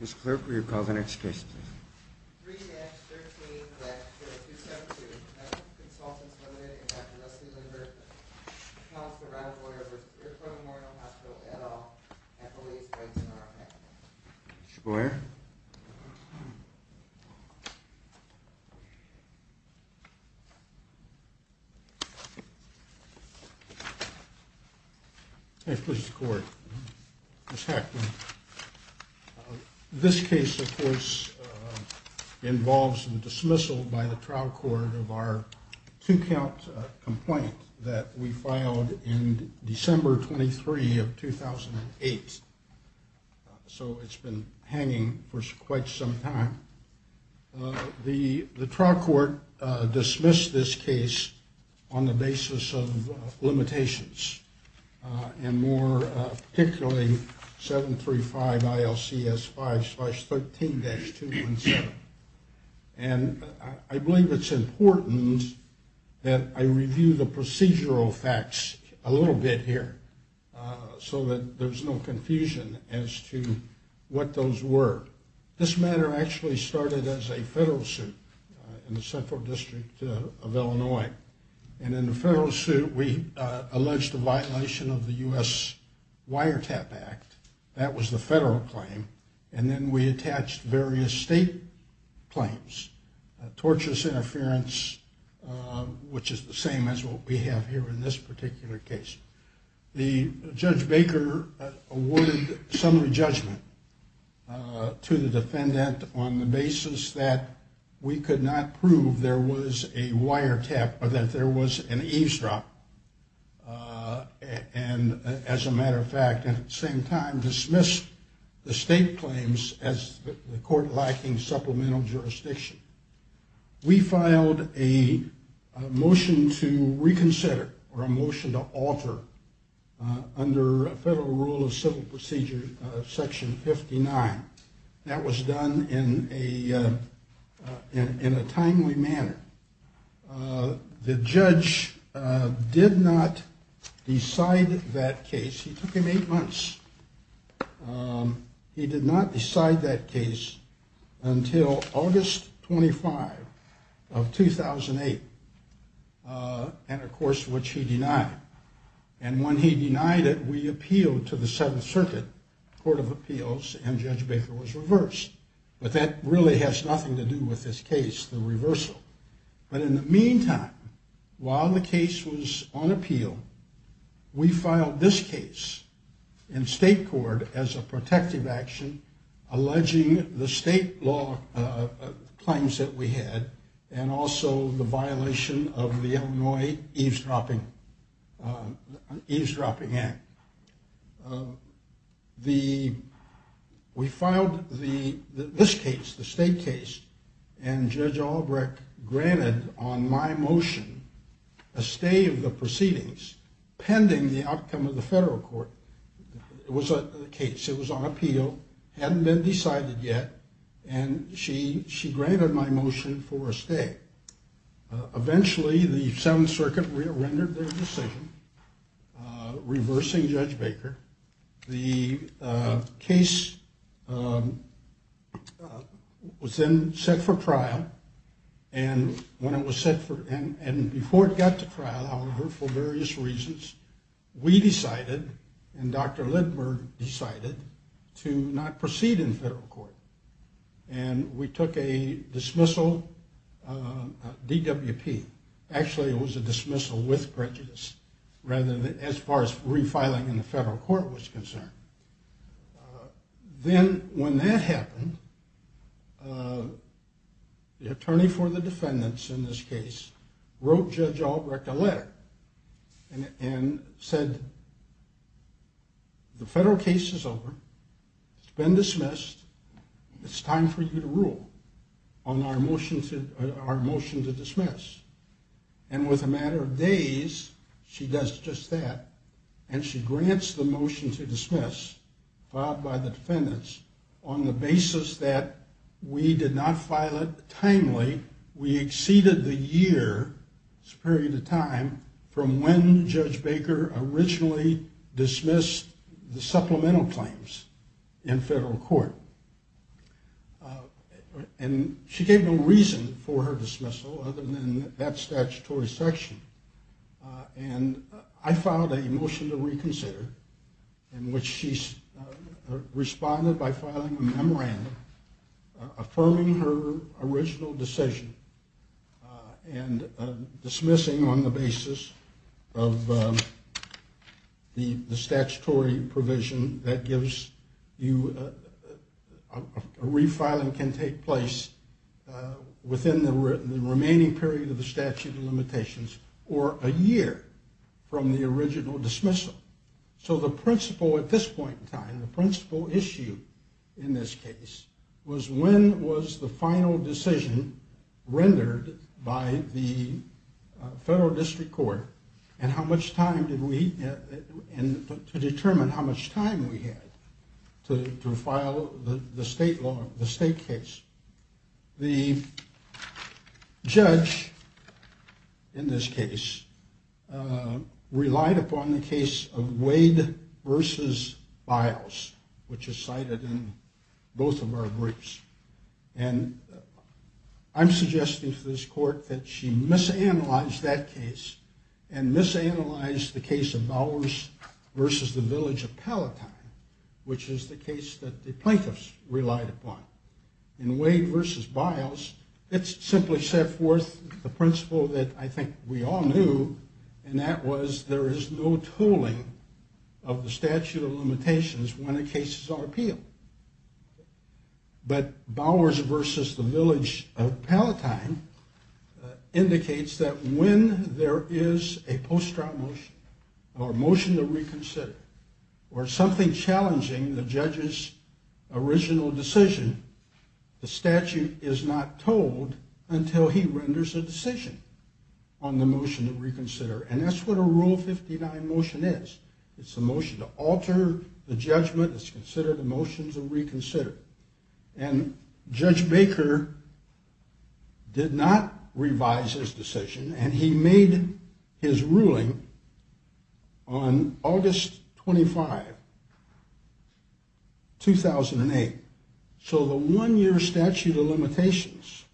Ms. Clerk, will you call the next case, please? 3-13-20272, United Consultants, Ltd. v. Dr. Leslie Lindberg, Counselor-at-Large, Iroquois Memorial Hospital, et al., and Police, Wentz, and Rothman. Mr. Boyer? 3-13-20272, United Consultants, Ltd. v. Dr. Leslie Lindberg, and Police, Wentz, and Rothman. This case, of course, involves the dismissal by the trial court of our two-count complaint that we filed in December 23 of 2008. So it's been hanging for quite some time. The trial court dismissed this case on the basis of limitations and more particularly 735-ILCS-5-13-217. And I believe it's important that I review the procedural facts a little bit here so that there's no confusion as to what those were. This matter actually started as a federal suit in the Central District of Illinois. And in the federal suit, we alleged the violation of the U.S. Wiretap Act. That was the federal claim. And then we attached various state claims, torturous interference, which is the same as what we have here in this particular case. Judge Baker awarded summary judgment to the defendant on the basis that we could not prove there was a wiretap or that there was an eavesdrop. And as a matter of fact, at the same time, dismissed the state claims as the court lacking supplemental jurisdiction. We filed a motion to reconsider or a motion to alter under federal rule of civil procedure section 59. That was done in a timely manner. The judge did not decide that case. He took him eight months. He did not decide that case until August 25 of 2008, and of course, which he denied. And when he denied it, we appealed to the Seventh Circuit Court of Appeals, and Judge Baker was reversed. But that really has nothing to do with this case, the reversal. But in the meantime, while the case was on appeal, we filed this case in state court as a protective action, alleging the state law claims that we had and also the violation of the Illinois Eavesdropping Act. We filed this case, the state case, and Judge Albrecht granted on my motion a stay of the proceedings pending the outcome of the federal court. It was a case. It was on appeal, hadn't been decided yet, and she granted my motion for a stay. Eventually, the Seventh Circuit rendered their decision, reversing Judge Baker. The case was then set for trial, and when it was set for, and before it got to trial, however, for various reasons, we decided, and Dr. Lindbergh decided, to not proceed in federal court, and we took a dismissal DWP. Actually, it was a dismissal with prejudice, rather than as far as refiling in the federal court was concerned. Then when that happened, the attorney for the defendants in this case wrote Judge Albrecht a letter and said, the federal case is over. It's been dismissed. It's time for you to rule on our motion to dismiss, and with a matter of days, she does just that, and she grants the motion to dismiss filed by the defendants on the basis that we did not file it timely. We exceeded the year, this period of time, from when Judge Baker originally dismissed the supplemental claims in federal court, and she gave no reason for her dismissal, other than that statutory section, and I filed a motion to reconsider in which she responded by filing a memorandum affirming her original decision and dismissing on the basis of the statutory provision that gives you a refiling can take place within the remaining period of the statute of limitations or a year from the original dismissal. So the principle at this point in time, the principle issue in this case, was when was the final decision rendered by the federal district court and how much time did we, and to determine how much time we had to file the state law, the state case. The judge in this case relied upon the case of Wade versus Biles, which is cited in both of our briefs, and I'm suggesting to this court that she misanalyzed that case and misanalyzed the case of Bowers versus the village of Palatine, which is the case that the plaintiffs relied upon. In Wade versus Biles, it simply set forth the principle that I think we all knew, and that was there is no tooling of the statute of limitations when a case is on appeal. But Bowers versus the village of Palatine indicates that when there is a post-trial motion or a motion to reconsider or something challenging the judge's original decision, the statute is not told until he renders a decision on the motion to reconsider. And that's what a Rule 59 motion is. It's a motion to alter the judgment that's considered a motion to reconsider. And Judge Baker did not revise his decision, and he made his ruling on August 25, 2008. So the one-year statute of limitations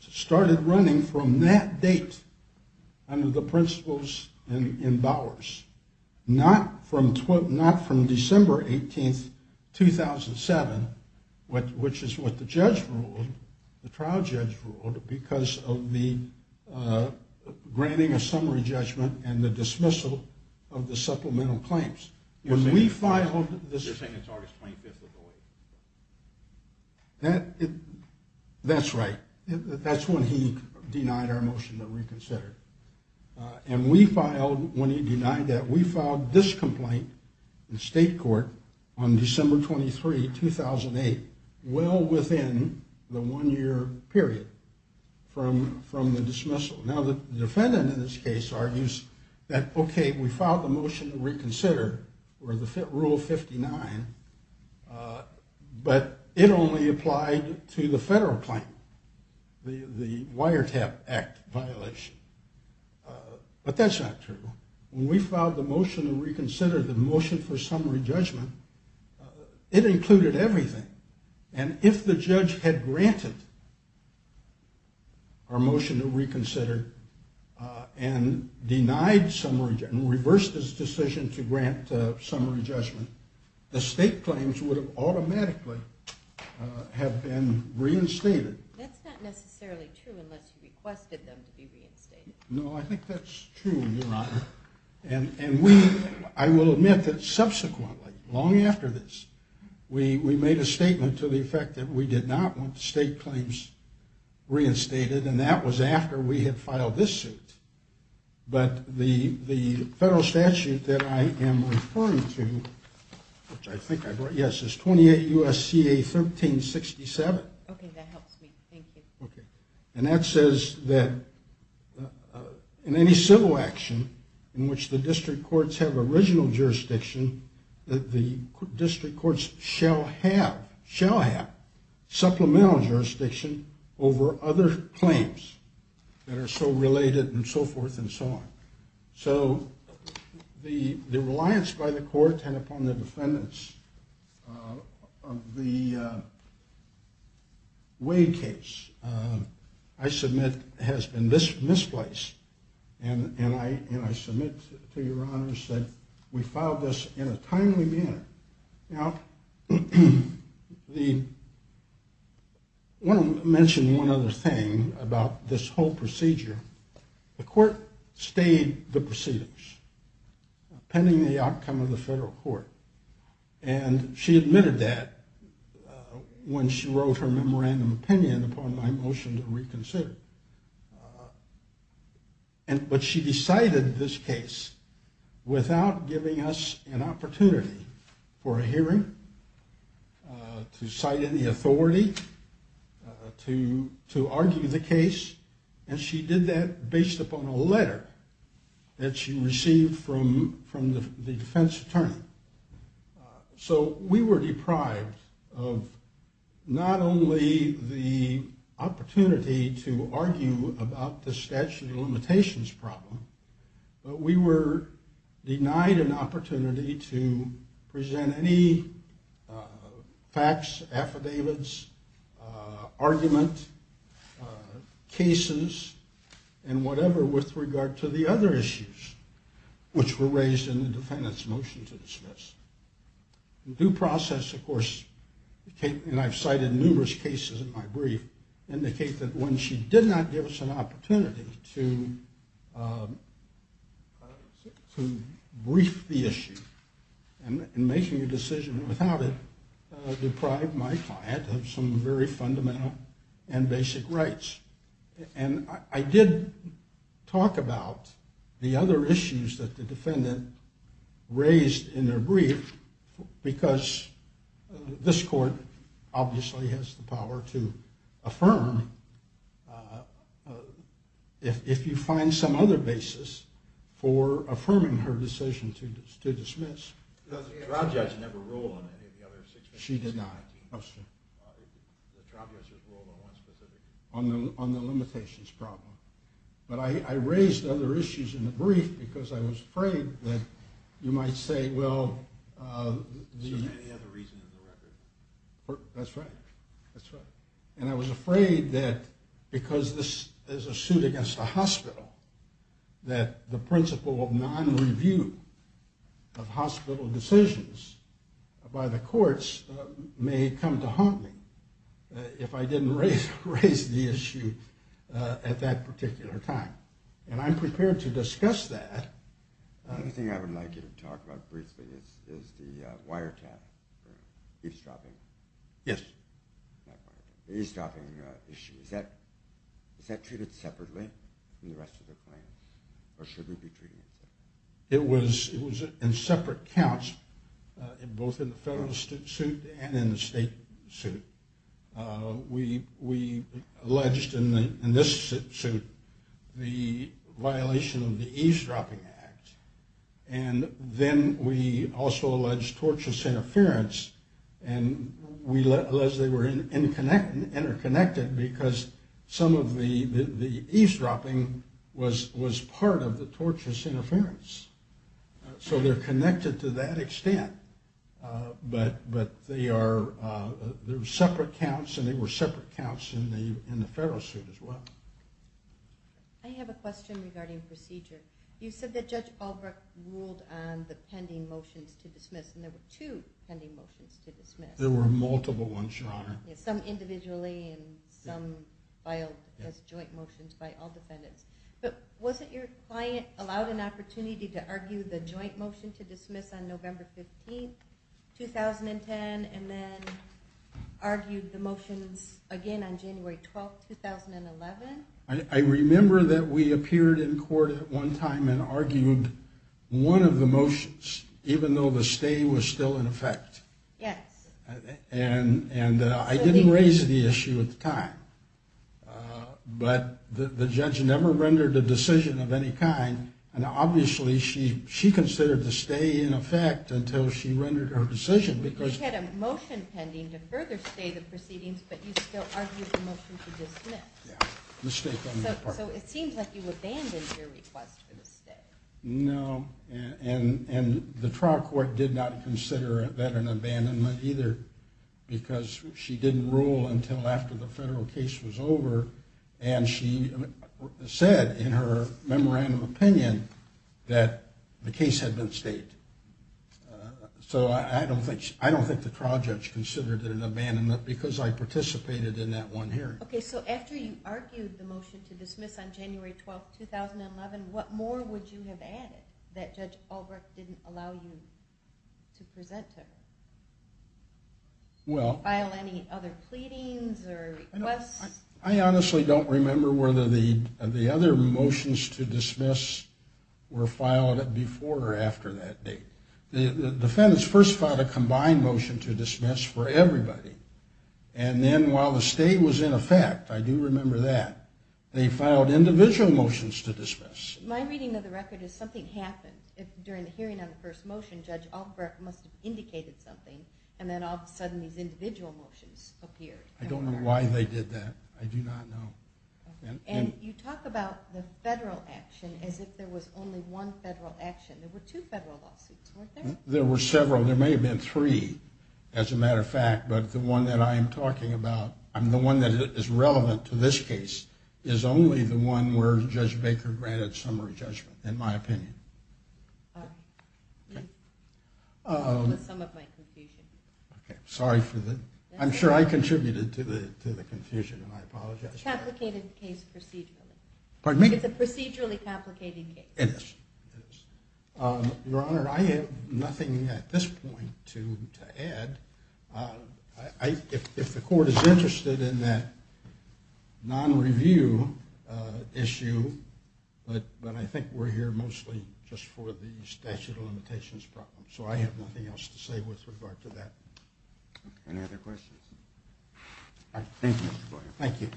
started running from that date under the principles in Bowers, not from December 18, 2007, which is what the judge ruled, the trial judge ruled, because of the granting of summary judgment and the dismissal of the supplemental claims. When we filed this... You're saying it's August 25, 2008. That's right. That's when he denied our motion to reconsider. And we filed, when he denied that, we filed this complaint in state court on December 23, 2008, well within the one-year period from the dismissal. Now, the defendant in this case argues that, okay, we filed the motion to reconsider or the Rule 59, but it only applied to the federal claim, the Wiretap Act violation. But that's not true. When we filed the motion to reconsider the motion for summary judgment, it included everything. And if the judge had granted our motion to reconsider and reversed his decision to grant summary judgment, the state claims would have automatically have been reinstated. That's not necessarily true unless you requested them to be reinstated. No, I think that's true, Your Honor. And I will admit that subsequently, long after this, we made a statement to the effect that we did not want state claims reinstated, and that was after we had filed this suit. But the federal statute that I am referring to, which I think I brought, yes, is 28 U.S.C.A. 1367. Okay, that helps me. Thank you. Okay, and that says that in any civil action in which the district courts have original jurisdiction, the district courts shall have supplemental jurisdiction over other claims that are so related and so forth and so on. So the reliance by the court and upon the defendants of the Wade case, I submit, has been misplaced. And I submit to Your Honor that we filed this in a timely manner. Now, I want to mention one other thing about this whole procedure. The court stayed the proceedings pending the outcome of the federal court, and she admitted that when she wrote her memorandum of opinion upon my motion to reconsider. But she decided this case without giving us an opportunity for a hearing, to cite any authority, to argue the case, and she did that based upon a letter that she received from the defense attorney. So we were deprived of not only the opportunity to argue about the statute of limitations problem, but we were denied an opportunity to present any facts, affidavits, argument, cases, and whatever with regard to the other issues, which were raised in the defendant's motion to dismiss. Due process, of course, and I've cited numerous cases in my brief, indicate that when she did not give us an opportunity to brief the issue and making a decision without it deprived my client of some very fundamental and basic rights. And I did talk about the other issues that the defendant raised in their brief, because this court obviously has the power to affirm if you find some other basis for affirming her decision to dismiss. The trial judge never ruled on any of the other situations. She did not. The trial judge has ruled on one specific. On the limitations problem. But I raised other issues in the brief because I was afraid that you might say, well, Is there any other reason in the record? That's right. That's right. And I was afraid that because this is a suit against a hospital, that the principle of non-review of hospital decisions by the courts may come to haunt me if I didn't raise the issue at that particular time. And I'm prepared to discuss that. The other thing I would like you to talk about briefly is the wiretap eavesdropping. Yes. The eavesdropping issue. Is that treated separately from the rest of the claims? Or should we be treating it separately? It was in separate counts, both in the federal suit and in the state suit. We alleged in this suit the violation of the eavesdropping act. And then we also alleged torturous interference. And we alleged they were interconnected because some of the eavesdropping was part of the torturous interference. So they're connected to that extent. But they are separate counts, and they were separate counts in the federal suit as well. I have a question regarding procedure. You said that Judge Albrecht ruled on the pending motions to dismiss, and there were two pending motions to dismiss. There were multiple ones, Your Honor. Some individually and some filed as joint motions by all defendants. But wasn't your client allowed an opportunity to argue the joint motion to dismiss on November 15, 2010, and then argued the motions again on January 12, 2011? I remember that we appeared in court at one time and argued one of the motions, even though the stay was still in effect. Yes. And I didn't raise the issue at the time. But the judge never rendered a decision of any kind. And obviously she considered the stay in effect until she rendered her decision. But you had a motion pending to further stay the proceedings, but you still argued the motion to dismiss. Yeah. So it seems like you abandoned your request for the stay. No. And the trial court did not consider that an abandonment either because she didn't rule until after the federal case was over, and she said in her memorandum of opinion that the case had been stayed. So I don't think the trial judge considered it an abandonment because I participated in that one hearing. Okay. So after you argued the motion to dismiss on January 12, 2011, what more would you have added that Judge Albrecht didn't allow you to present to her? Well. File any other pleadings or requests? I honestly don't remember whether the other motions to dismiss were filed before or after that date. The defendants first filed a combined motion to dismiss for everybody. And then while the stay was in effect, I do remember that, they filed individual motions to dismiss. My reading of the record is something happened. During the hearing on the first motion, Judge Albrecht must have indicated something, and then all of a sudden these individual motions appeared. I don't know why they did that. I do not know. And you talk about the federal action as if there was only one federal action. There were two federal lawsuits, weren't there? There were several. There may have been three, as a matter of fact. But the one that I am talking about, the one that is relevant to this case, is only the one where Judge Baker granted summary judgment, in my opinion. Okay. With some of my confusion. Okay. Sorry. I'm sure I contributed to the confusion, and I apologize for that. It's a procedurally complicated case. It is. Your Honor, I have nothing at this point to add. If the court is interested in that non-review issue, but I think we're here mostly just for the statute of limitations problem. So I have nothing else to say with regard to that. Any other questions? Thank you, Mr. Boyer. Thank you.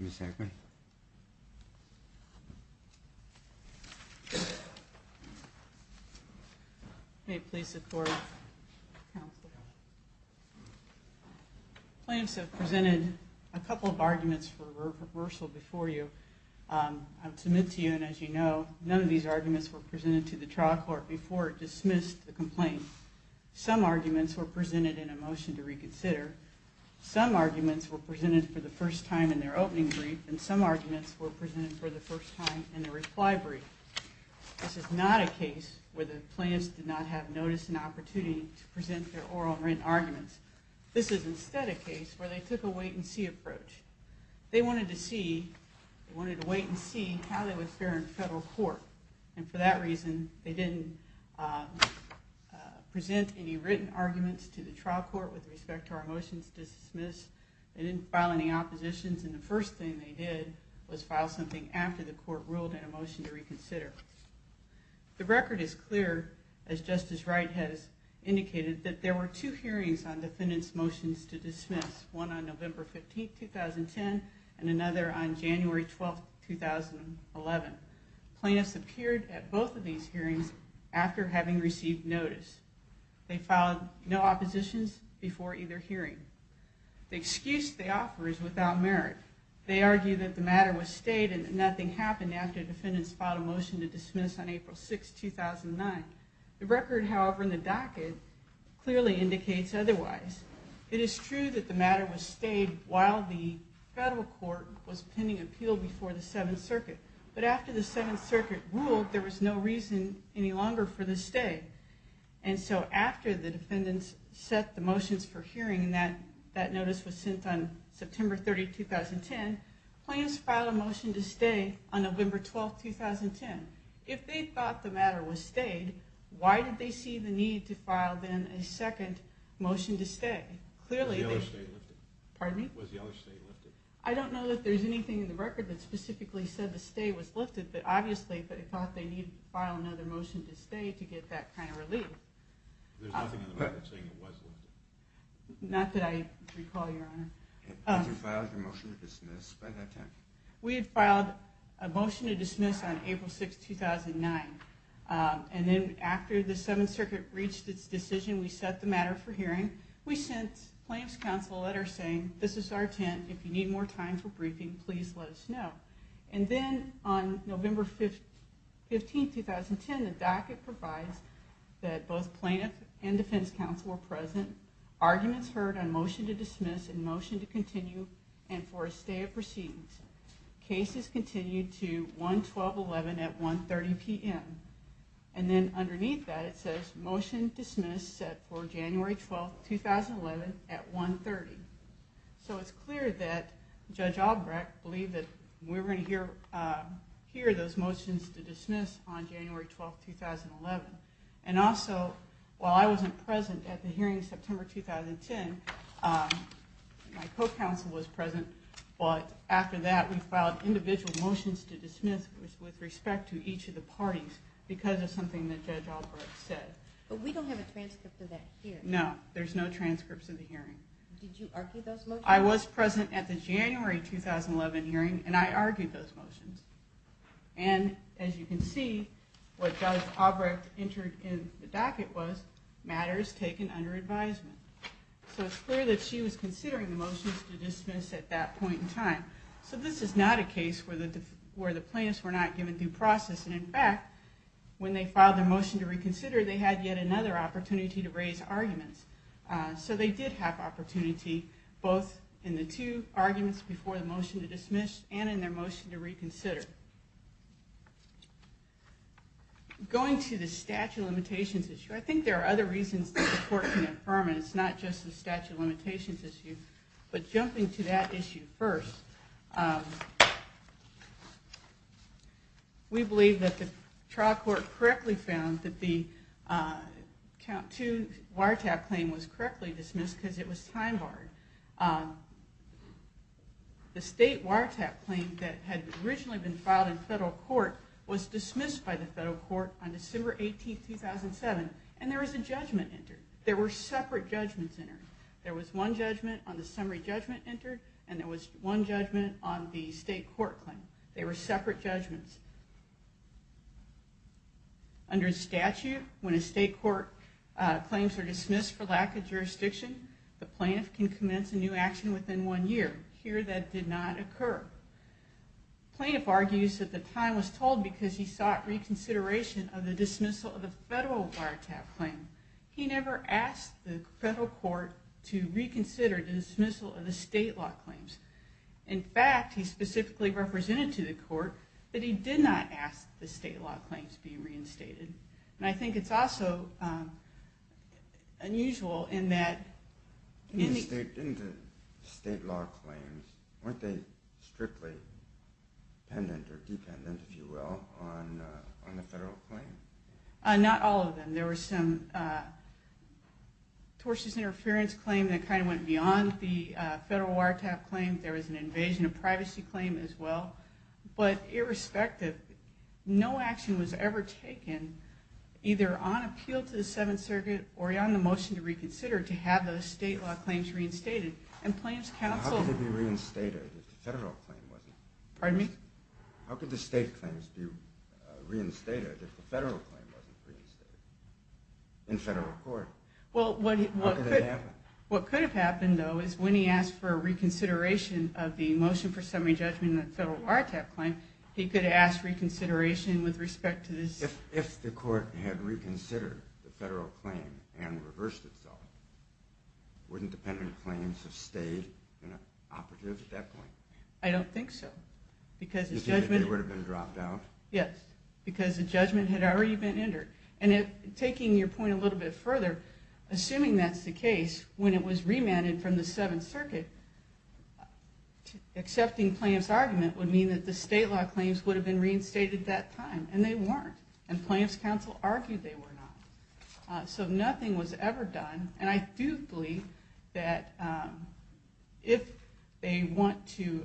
Ms. Agnew. May it please the Court. Counsel. Plaintiffs have presented a couple of arguments for reversal before you. I'll submit to you, and as you know, none of these arguments were presented to the trial court before it dismissed the complaint. Some arguments were presented in a motion to reconsider. Some arguments were presented for the first time in their opening brief, and some arguments were presented for the first time in the reply brief. This is not a case where the plaintiffs did not have notice and opportunity to present their oral and written arguments. This is instead a case where they took a wait-and-see approach. They wanted to wait and see how they would fare in federal court, and for that reason, they didn't present any written arguments to the trial court with respect to our motions to dismiss. They didn't file any oppositions, and the first thing they did was file something after the court ruled in a motion to reconsider. The record is clear, as Justice Wright has indicated, that there were two hearings on defendants' motions to dismiss, one on November 15, 2010, and another on January 12, 2011. Plaintiffs appeared at both of these hearings after having received notice. They filed no oppositions before either hearing. The excuse they offer is without merit. They argue that the matter was stayed and that nothing happened after defendants filed a motion to dismiss on April 6, 2009. The record, however, in the docket clearly indicates otherwise. It is true that the matter was stayed while the federal court was pending appeal before the Seventh Circuit, but after the Seventh Circuit ruled, there was no reason any longer for the stay. And so after the defendants set the motions for hearing, and that notice was sent on September 30, 2010, plaintiffs filed a motion to stay on November 12, 2010. If they thought the matter was stayed, why did they see the need to file then a second motion to stay? Was the other stay lifted? Pardon me? Was the other stay lifted? I don't know that there's anything in the record that specifically said the stay was lifted, but obviously they thought they needed to file another motion to stay to get that kind of relief. There's nothing in the record saying it was lifted? Not that I recall, Your Honor. Did you file your motion to dismiss by that time? We had filed a motion to dismiss on April 6, 2009, and then after the Seventh Circuit reached its decision, we set the matter for hearing. We sent plaintiffs' counsel a letter saying, this is our intent, if you need more time for briefing, please let us know. And then on November 15, 2010, the docket provides that both plaintiffs and defense counsel were present, arguments heard on motion to dismiss and motion to continue and for a stay of proceedings. Cases continued to 1-12-11 at 1-30 p.m. And then underneath that it says, motion dismissed set for January 12, 2011 at 1-30. So it's clear that Judge Albrecht believed that we were going to hear those motions to dismiss on January 12, 2011. And also, while I wasn't present at the hearing in September 2010, my co-counsel was present, but after that we filed individual motions to dismiss with respect to each of the parties because of something that Judge Albrecht said. But we don't have a transcript of that here. No, there's no transcripts of the hearing. Did you argue those motions? I was present at the January 2011 hearing and I argued those motions. And as you can see, what Judge Albrecht entered in the docket was, matters taken under advisement. So it's clear that she was considering the motions to dismiss at that point in time. So this is not a case where the plaintiffs were not given due process. And, in fact, when they filed their motion to reconsider, they had yet another opportunity to raise arguments. So they did have opportunity both in the two arguments before the motion to dismiss and in their motion to reconsider. Going to the statute of limitations issue, I think there are other reasons the court can affirm it. It's not just the statute of limitations issue. But jumping to that issue first, we believe that the trial court correctly found that the Count 2 wiretap claim was correctly dismissed because it was time barred. The state wiretap claim that had originally been filed in federal court was dismissed by the federal court on December 18, 2007, and there was a judgment entered. There were separate judgments entered. There was one judgment on the summary judgment entered, and there was one judgment on the state court claim. They were separate judgments. Under statute, when a state court claims are dismissed for lack of jurisdiction, the plaintiff can commence a new action within one year. Here that did not occur. The plaintiff argues that the time was told because he sought reconsideration of the dismissal of the federal wiretap claim. He never asked the federal court to reconsider the dismissal of the state law claims. In fact, he specifically represented to the court that he did not ask the state law claims be reinstated. I think it's also unusual in that... In the state law claims, weren't they strictly dependent or dependent, if you will, on the federal claim? Not all of them. There was some tortious interference claim that kind of went beyond the federal wiretap claim. There was an invasion of privacy claim as well. But irrespective, no action was ever taken, either on appeal to the Seventh Circuit or on the motion to reconsider to have those state law claims reinstated. And plaintiff's counsel... Pardon me? How could the state claims be reinstated if the federal claim wasn't reinstated in federal court? How could that happen? What could have happened, though, is when he asked for a reconsideration of the motion for summary judgment on the federal wiretap claim, he could have asked reconsideration with respect to this... If the court had reconsidered the federal claim and reversed itself, wouldn't dependent claims have stayed operative at that point? I don't think so. Because the judgment... Because they would have been dropped out? Yes. Because the judgment had already been entered. And taking your point a little bit further, assuming that's the case, when it was remanded from the Seventh Circuit, accepting plaintiff's argument would mean that the state law claims would have been reinstated at that time, and they weren't. And plaintiff's counsel argued they were not. So nothing was ever done. And I do believe that if they want to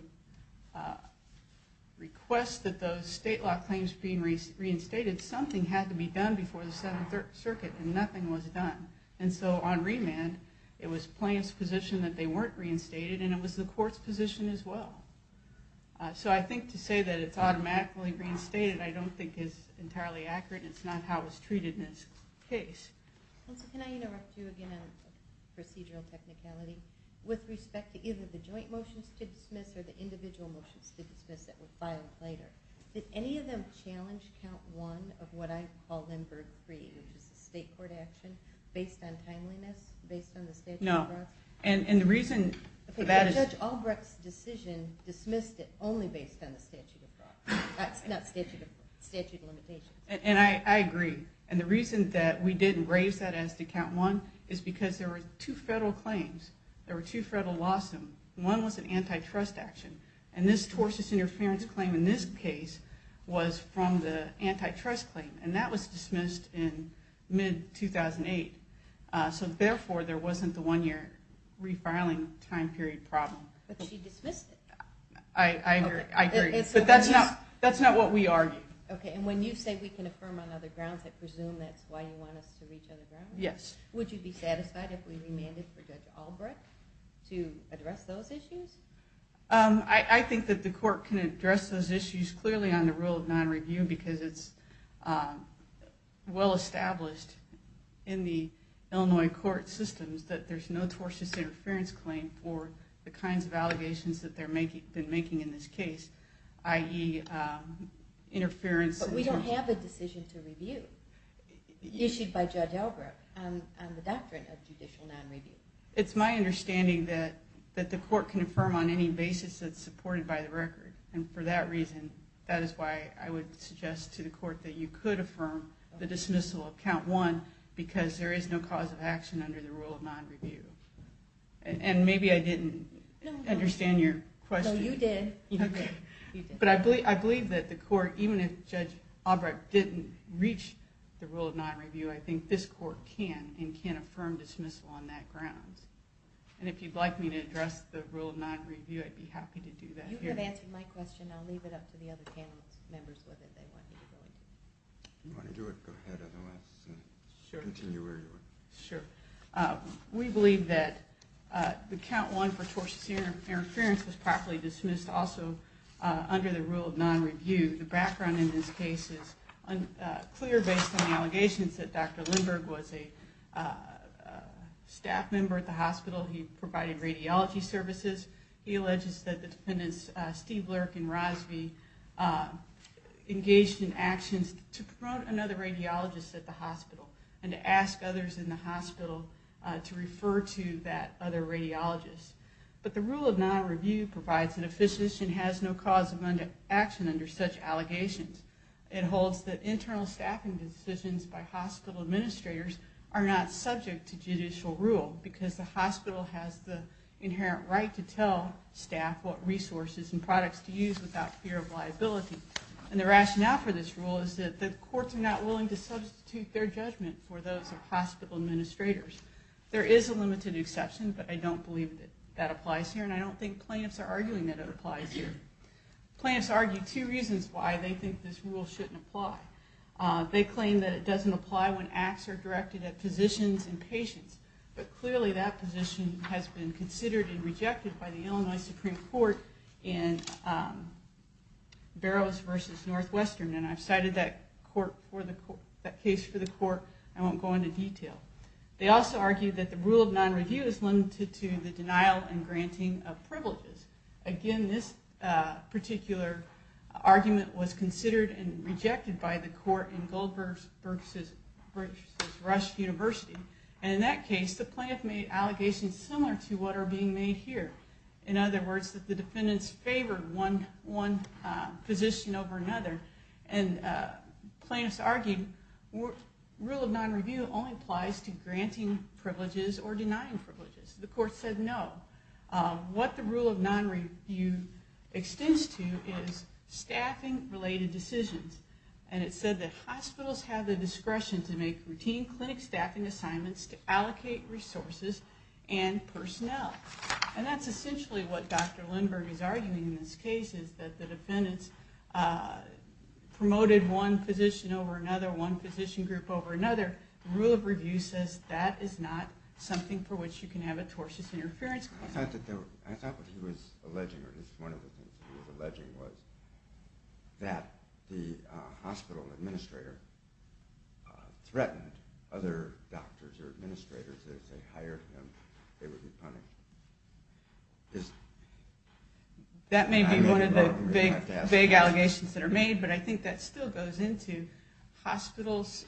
request that those state law claims be reinstated, something had to be done before the Seventh Circuit, and nothing was done. And so on remand, it was plaintiff's position that they weren't reinstated, and it was the court's position as well. So I think to say that it's automatically reinstated I don't think is entirely accurate, and it's not how it was treated in this case. Counsel, can I interrupt you again on procedural technicality? With respect to either the joint motions to dismiss or the individual motions to dismiss that were filed later, did any of them challenge Count 1 of what I call Limburg Free, which is a state court action based on timeliness, based on the statute of frauds? No. And the reason for that is... Okay, Judge Albrecht's decision dismissed it only based on the statute of frauds. Not statute of frauds. Statute of limitations. And I agree. And the reason that we didn't raise that as to Count 1 is because there were two federal claims. There were two federal lawsuits. One was an antitrust action, and this tortious interference claim in this case was from the antitrust claim, and that was dismissed in mid-2008. So therefore, there wasn't the one-year refiling time period problem. But she dismissed it. I agree. But that's not what we argued. Okay, and when you say we can affirm on other grounds, I presume that's why you want us to reach other grounds? Yes. Would you be satisfied if we remanded for Judge Albrecht to address those issues? I think that the court can address those issues clearly on the rule of non-review because it's well-established in the Illinois court systems that there's no tortious interference claim for the kinds of allegations that they've been making in this case, i.e. interference. But we don't have a decision to review issued by Judge Albrecht on the doctrine of judicial non-review. It's my understanding that the court can affirm on any basis that's supported by the record, and for that reason, that is why I would suggest to the court that you could affirm the dismissal of Count 1 because there is no cause of action under the rule of non-review. And maybe I didn't understand your question. No, you did. Okay. But I believe that the court, even if Judge Albrecht didn't reach the rule of non-review, I think this court can and can affirm dismissal on that grounds. And if you'd like me to address the rule of non-review, I'd be happy to do that here. You have answered my question. I'll leave it up to the other panel members whether they want me to go into it. If you want to do it, go ahead. Otherwise, continue where you were. Sure. We believe that the Count 1 for tortious interference was properly dismissed also under the rule of non-review. The background in this case is clear based on the allegations that Dr. Lindbergh was a staff member at the hospital. He provided radiology services. He alleges that the defendants, Steve Lurk and Rosby, engaged in actions to promote another radiologist at the hospital and to ask others in the hospital to refer to that other radiologist. But the rule of non-review provides that a physician has no cause of action under such allegations. It holds that internal staffing decisions by hospital administrators are not subject to judicial rule because the hospital has the inherent right to tell staff what resources and products to use without fear of liability. And the rationale for this rule is that the courts are not willing to substitute their judgment for those of hospital administrators. There is a limited exception, but I don't believe that applies here, and I don't think plaintiffs are arguing that it applies here. Plaintiffs argue two reasons why they think this rule shouldn't apply. They claim that it doesn't apply when acts are directed at physicians and patients, but clearly that position has been considered and rejected by the Illinois Supreme Court in Barrows v. Northwestern, and I've cited that case for the court. I won't go into detail. They also argue that the rule of non-review is limited to the denial and granting of privileges. Again, this particular argument was considered and rejected by the court in Goldberg v. Rush University, and in that case the plaintiff made allegations similar to what are being made here. In other words, the defendants favored one physician over another, and plaintiffs argued rule of non-review only applies to granting privileges or denying privileges. The court said no. What the rule of non-review extends to is staffing-related decisions, and it said that hospitals have the discretion to make routine clinic staffing assignments to allocate resources and personnel, and that's essentially what Dr. Lindbergh is arguing in this case, is that the defendants promoted one physician over another, one physician group over another. The rule of review says that is not something for which you can have a tortious interference claim. I thought what he was alleging, or at least one of the things he was alleging, was that the hospital administrator threatened other doctors or administrators that if they hired him, they would be punished. That may be one of the big allegations that are made, but I think that still goes into hospitals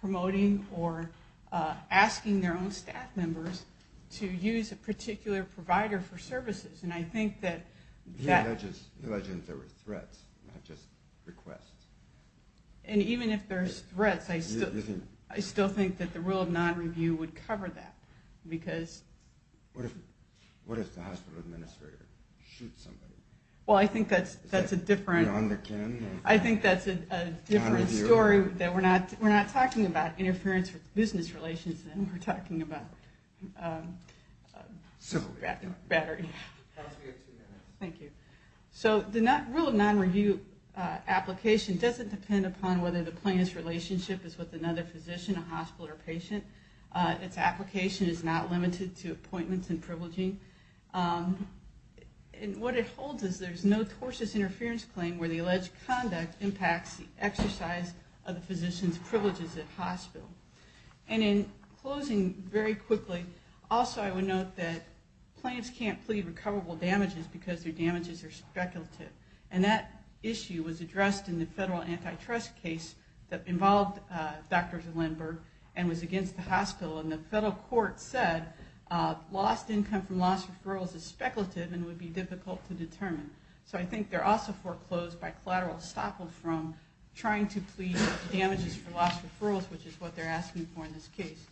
promoting or asking their own staff members to use a particular provider for services, and I think that... He alleges there were threats, not just requests. And even if there's threats, I still think that the rule of non-review would cover that because... What if the hospital administrator shoots somebody? Well, I think that's a different... Is that beyond the kin? I think that's a different story that we're not talking about interference with business relations. We're talking about... Simple. Thank you. So the rule of non-review application doesn't depend upon whether the plaintiff's relationship is with another physician, a hospital, or a patient. Its application is not limited to appointments and privileging. And what it holds is there's no tortious interference claim where the alleged conduct impacts the exercise of the physician's privileges at hospital. And in closing, very quickly, also I would note that plaintiffs can't plead recoverable damages because their damages are speculative. And that issue was addressed in the federal antitrust case that involved Dr. Zelenberg and was against the hospital. And the federal court said lost income from lost referrals is speculative and would be difficult to determine. So I think they're also foreclosed by collateral stopped from trying to plead damages for lost referrals, which is what they're asking for in this case.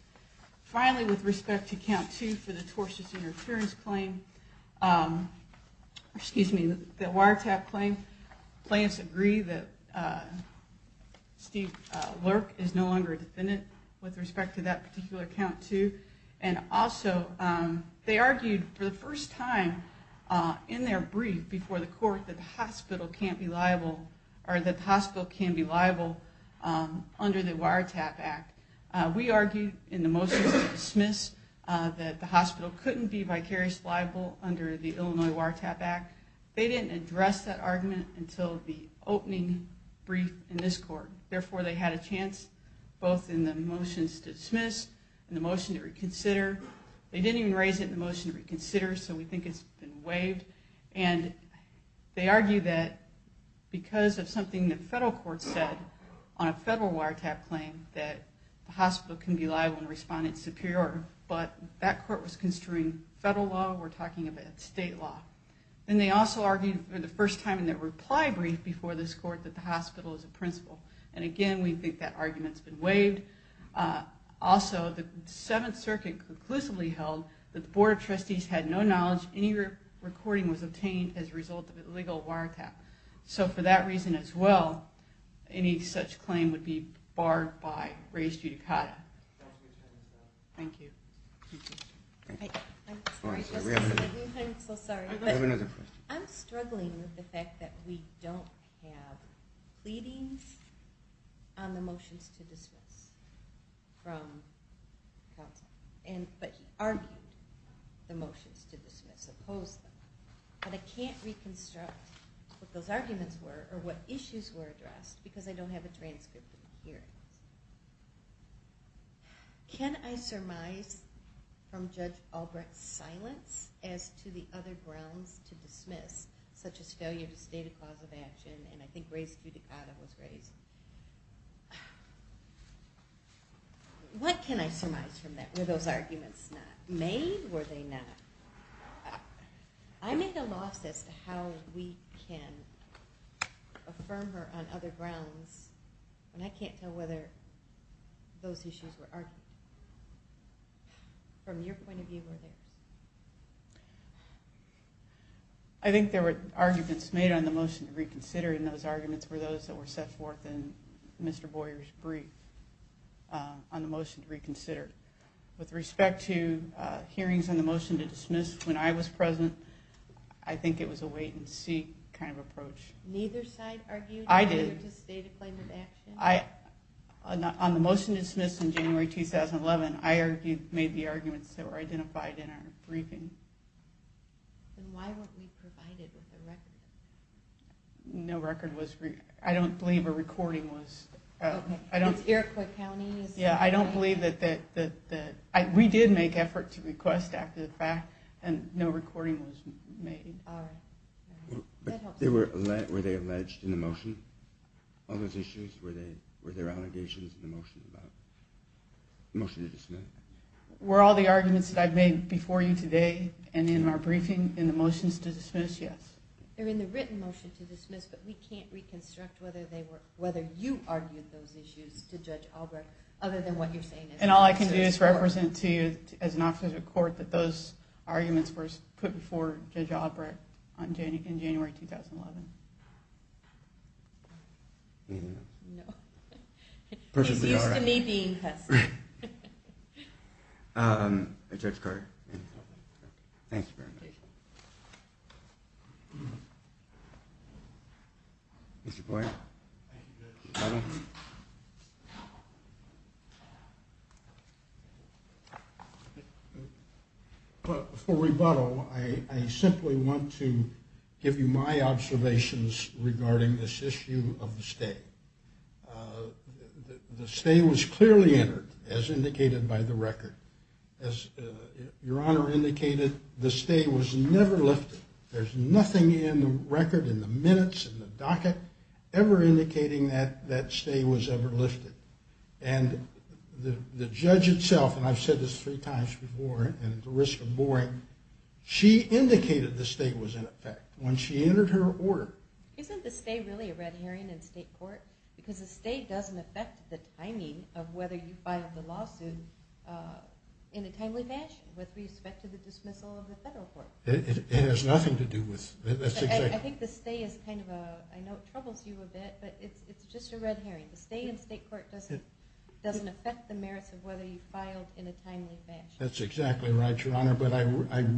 Finally, with respect to count two for the tortious interference claim, excuse me, the wiretap claim, plaintiffs agree that Steve Lurk is no longer a defendant with respect to that particular count two. And also they argued for the first time in their brief before the court that the hospital can't be liable or that the hospital can be liable under the Wiretap Act. We argued in the motion to dismiss that the hospital couldn't be vicariously liable under the Illinois Wiretap Act. They didn't address that argument until the opening brief in this court. Therefore, they had a chance both in the motions to dismiss and the motion to reconsider. They didn't even raise it in the motion to reconsider, so we think it's been waived. And they argue that because of something the federal court said on a federal wiretap claim, that the hospital can be liable in Respondent Superior. But that court was construing federal law. We're talking about state law. And they also argued for the first time in their reply brief before this court that the hospital is a principal. And again, we think that argument's been waived. Also, the Seventh Circuit conclusively held that the Board of Trustees had no knowledge any recording was obtained as a result of a legal wiretap. So for that reason as well, any such claim would be barred by res judicata. Thank you. I'm sorry. I'm so sorry. I have another question. I'm struggling with the fact that we don't have pleadings on the motions to dismiss from counsel. But he argued the motions to dismiss, opposed them. But I can't reconstruct what those arguments were because I don't have a transcript of the hearings. Can I surmise from Judge Albrecht's silence as to the other grounds to dismiss, such as failure to state a cause of action? And I think res judicata was raised. What can I surmise from that? Were those arguments not made? Were they not? I make a loss as to how we can affirm her on other grounds. And I can't tell whether those issues were argued. From your point of view or theirs. I think there were arguments made on the motion to reconsider and those arguments were those that were set forth in Mr. Boyer's brief on the motion to reconsider. With respect to hearings on the motion to dismiss when I was present, I think it was a wait and see kind of approach. Neither side argued? I did. Failure to state a claim of action? On the motion to dismiss in January 2011, I made the arguments that were identified in our briefing. Then why weren't we provided with a record? No record was... I don't believe a recording was... It's Iroquois County? Yeah, I don't believe that... We did make effort to request after the fact and no recording was made. All right. Were they alleged in the motion on those issues? Were there allegations in the motion about the motion to dismiss? Were all the arguments that I've made before you today and in our briefing in the motions to dismiss, yes. They're in the written motion to dismiss, but we can't reconstruct whether you argued those issues to Judge Albrecht other than what you're saying is... And all I can do is represent to you as an officer of court that those arguments were put before Judge Albrecht in January 2011. Anything else? No. It's used to me being present. Judge Carter. Thank you very much. Thank you, Judge. You're welcome. For rebuttal, I simply want to give you my observations regarding this issue of the stay. The stay was clearly entered, as indicated by the record. As Your Honor indicated, the stay was never lifted. There's nothing in the record, in the minutes, in the docket, ever indicating that that stay was ever lifted. And the judge itself, and I've said this three times before and at the risk of boring, she indicated the stay was in effect when she entered her order. Isn't the stay really a red herring in state court? Because the stay doesn't affect the timing of whether you filed the lawsuit in a timely fashion with respect to the dismissal of the federal court. It has nothing to do with... I think the stay is kind of a... I know it troubles you a bit, but it's just a red herring. The stay in state court doesn't affect the merits of whether you filed in a timely fashion. That's exactly right, Your Honor. But I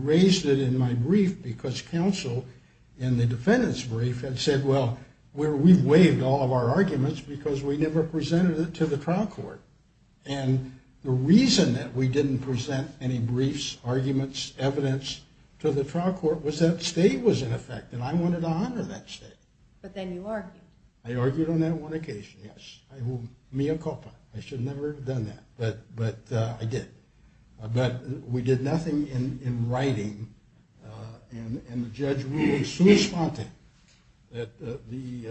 raised it in my brief because counsel in the defendant's brief had said, well, we've waived all of our arguments because we never presented it to the trial court. And the reason that we didn't present any briefs, arguments, evidence to the trial court was that stay was in effect, and I wanted to honor that stay. But then you argued. I argued on that one occasion, yes. Mea culpa. I should never have done that, but I did. But we did nothing in writing, and the judge ruled in sui sponte that the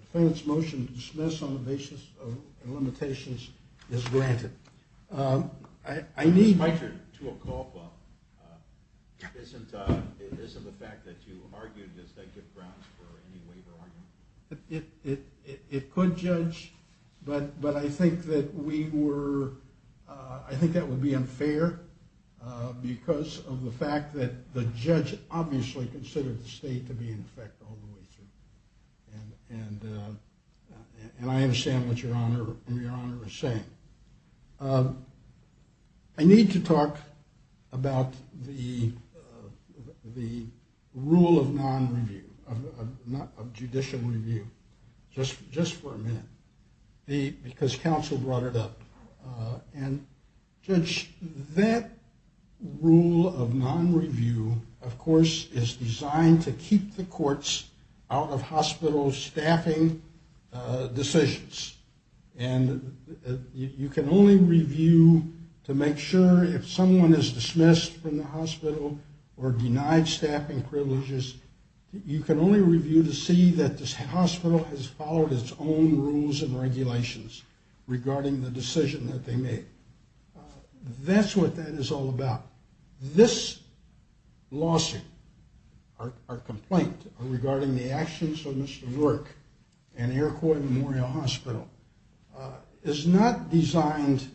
defendant's motion to dismiss on the basis of limitations is granted. I need... I should, to a culpa. It isn't the fact that you argued, does that give grounds for any waiver argument? It could, Judge, but I think that we were... I think that would be unfair because of the fact that the judge obviously considered the stay to be in effect all the way through. And I understand what Your Honor is saying. I need to talk about the rule of non-review, of judicial review, just for a minute, because counsel brought it up. And, Judge, that rule of non-review, of course, is designed to keep the courts out of hospital staffing decisions. And you can only review to make sure if someone is dismissed from the hospital or denied staffing privileges, you can only review to see that this hospital has followed its own rules and regulations regarding the decision that they made. That's what that is all about. This lawsuit, our complaint, regarding the actions of Mr. Verk and Iroquois Memorial Hospital is not designed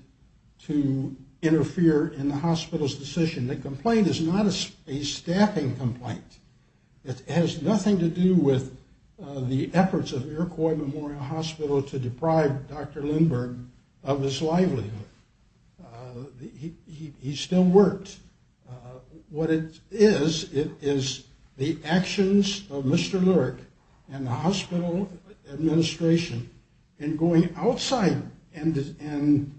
to interfere in the hospital's decision. The complaint is not a staffing complaint. It has nothing to do with the efforts of Iroquois Memorial Hospital to deprive Dr. Lindbergh of his livelihood. He still works. What it is, it is the actions of Mr. Lurk and the hospital administration in going outside and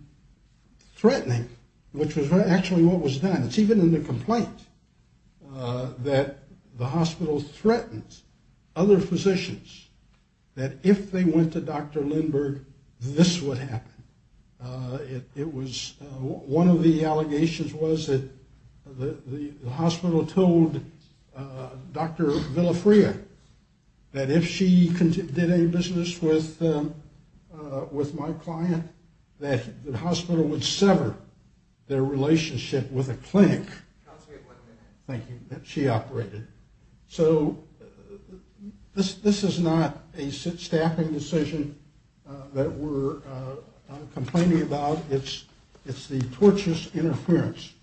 threatening, which was actually what was done. It's even in the complaint that the hospital threatened other physicians that if they went to Dr. Lindbergh, this would happen. One of the allegations was that the hospital told Dr. Villafrea that if she did any business with my client, that the hospital would sever their relationship with the clinic that she operated. So this is not a staffing decision that we're complaining about. It's the torturous interference.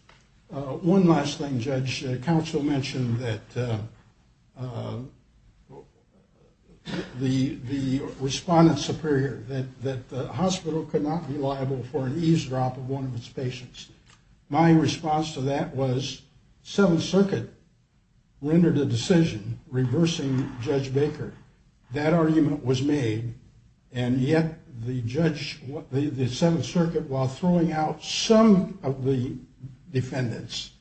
One last thing, Judge. Counsel mentioned that the respondents appear here, that the hospital could not be liable for an eavesdrop of one of its patients. My response to that was Seventh Circuit rendered a decision reversing Judge Baker. That argument was made, and yet the Seventh Circuit, while throwing out some of the defendants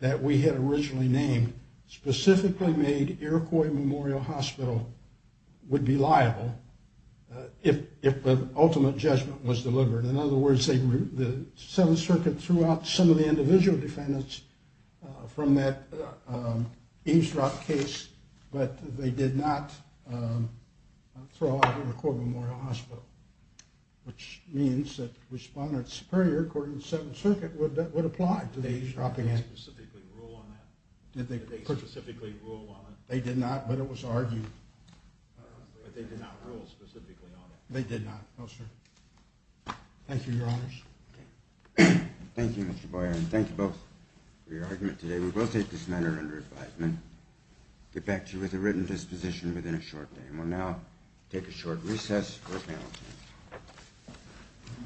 that we had originally named, specifically made Iroquois Memorial Hospital would be liable if the ultimate judgment was delivered. In other words, the Seventh Circuit threw out some of the individual defendants from that eavesdrop case, but they did not throw out Iroquois Memorial Hospital, which means that respondents superior, according to the Seventh Circuit, would apply to the eavesdropping act. Did they specifically rule on that? They did not, but it was argued. But they did not rule specifically on it? They did not, no, sir. Thank you, Your Honors. Thank you, Mr. Boyer, and thank you both for your argument today. We will take this matter under advisement, get back to you with a written disposition within a short day, and we'll now take a short recess for panel discussion.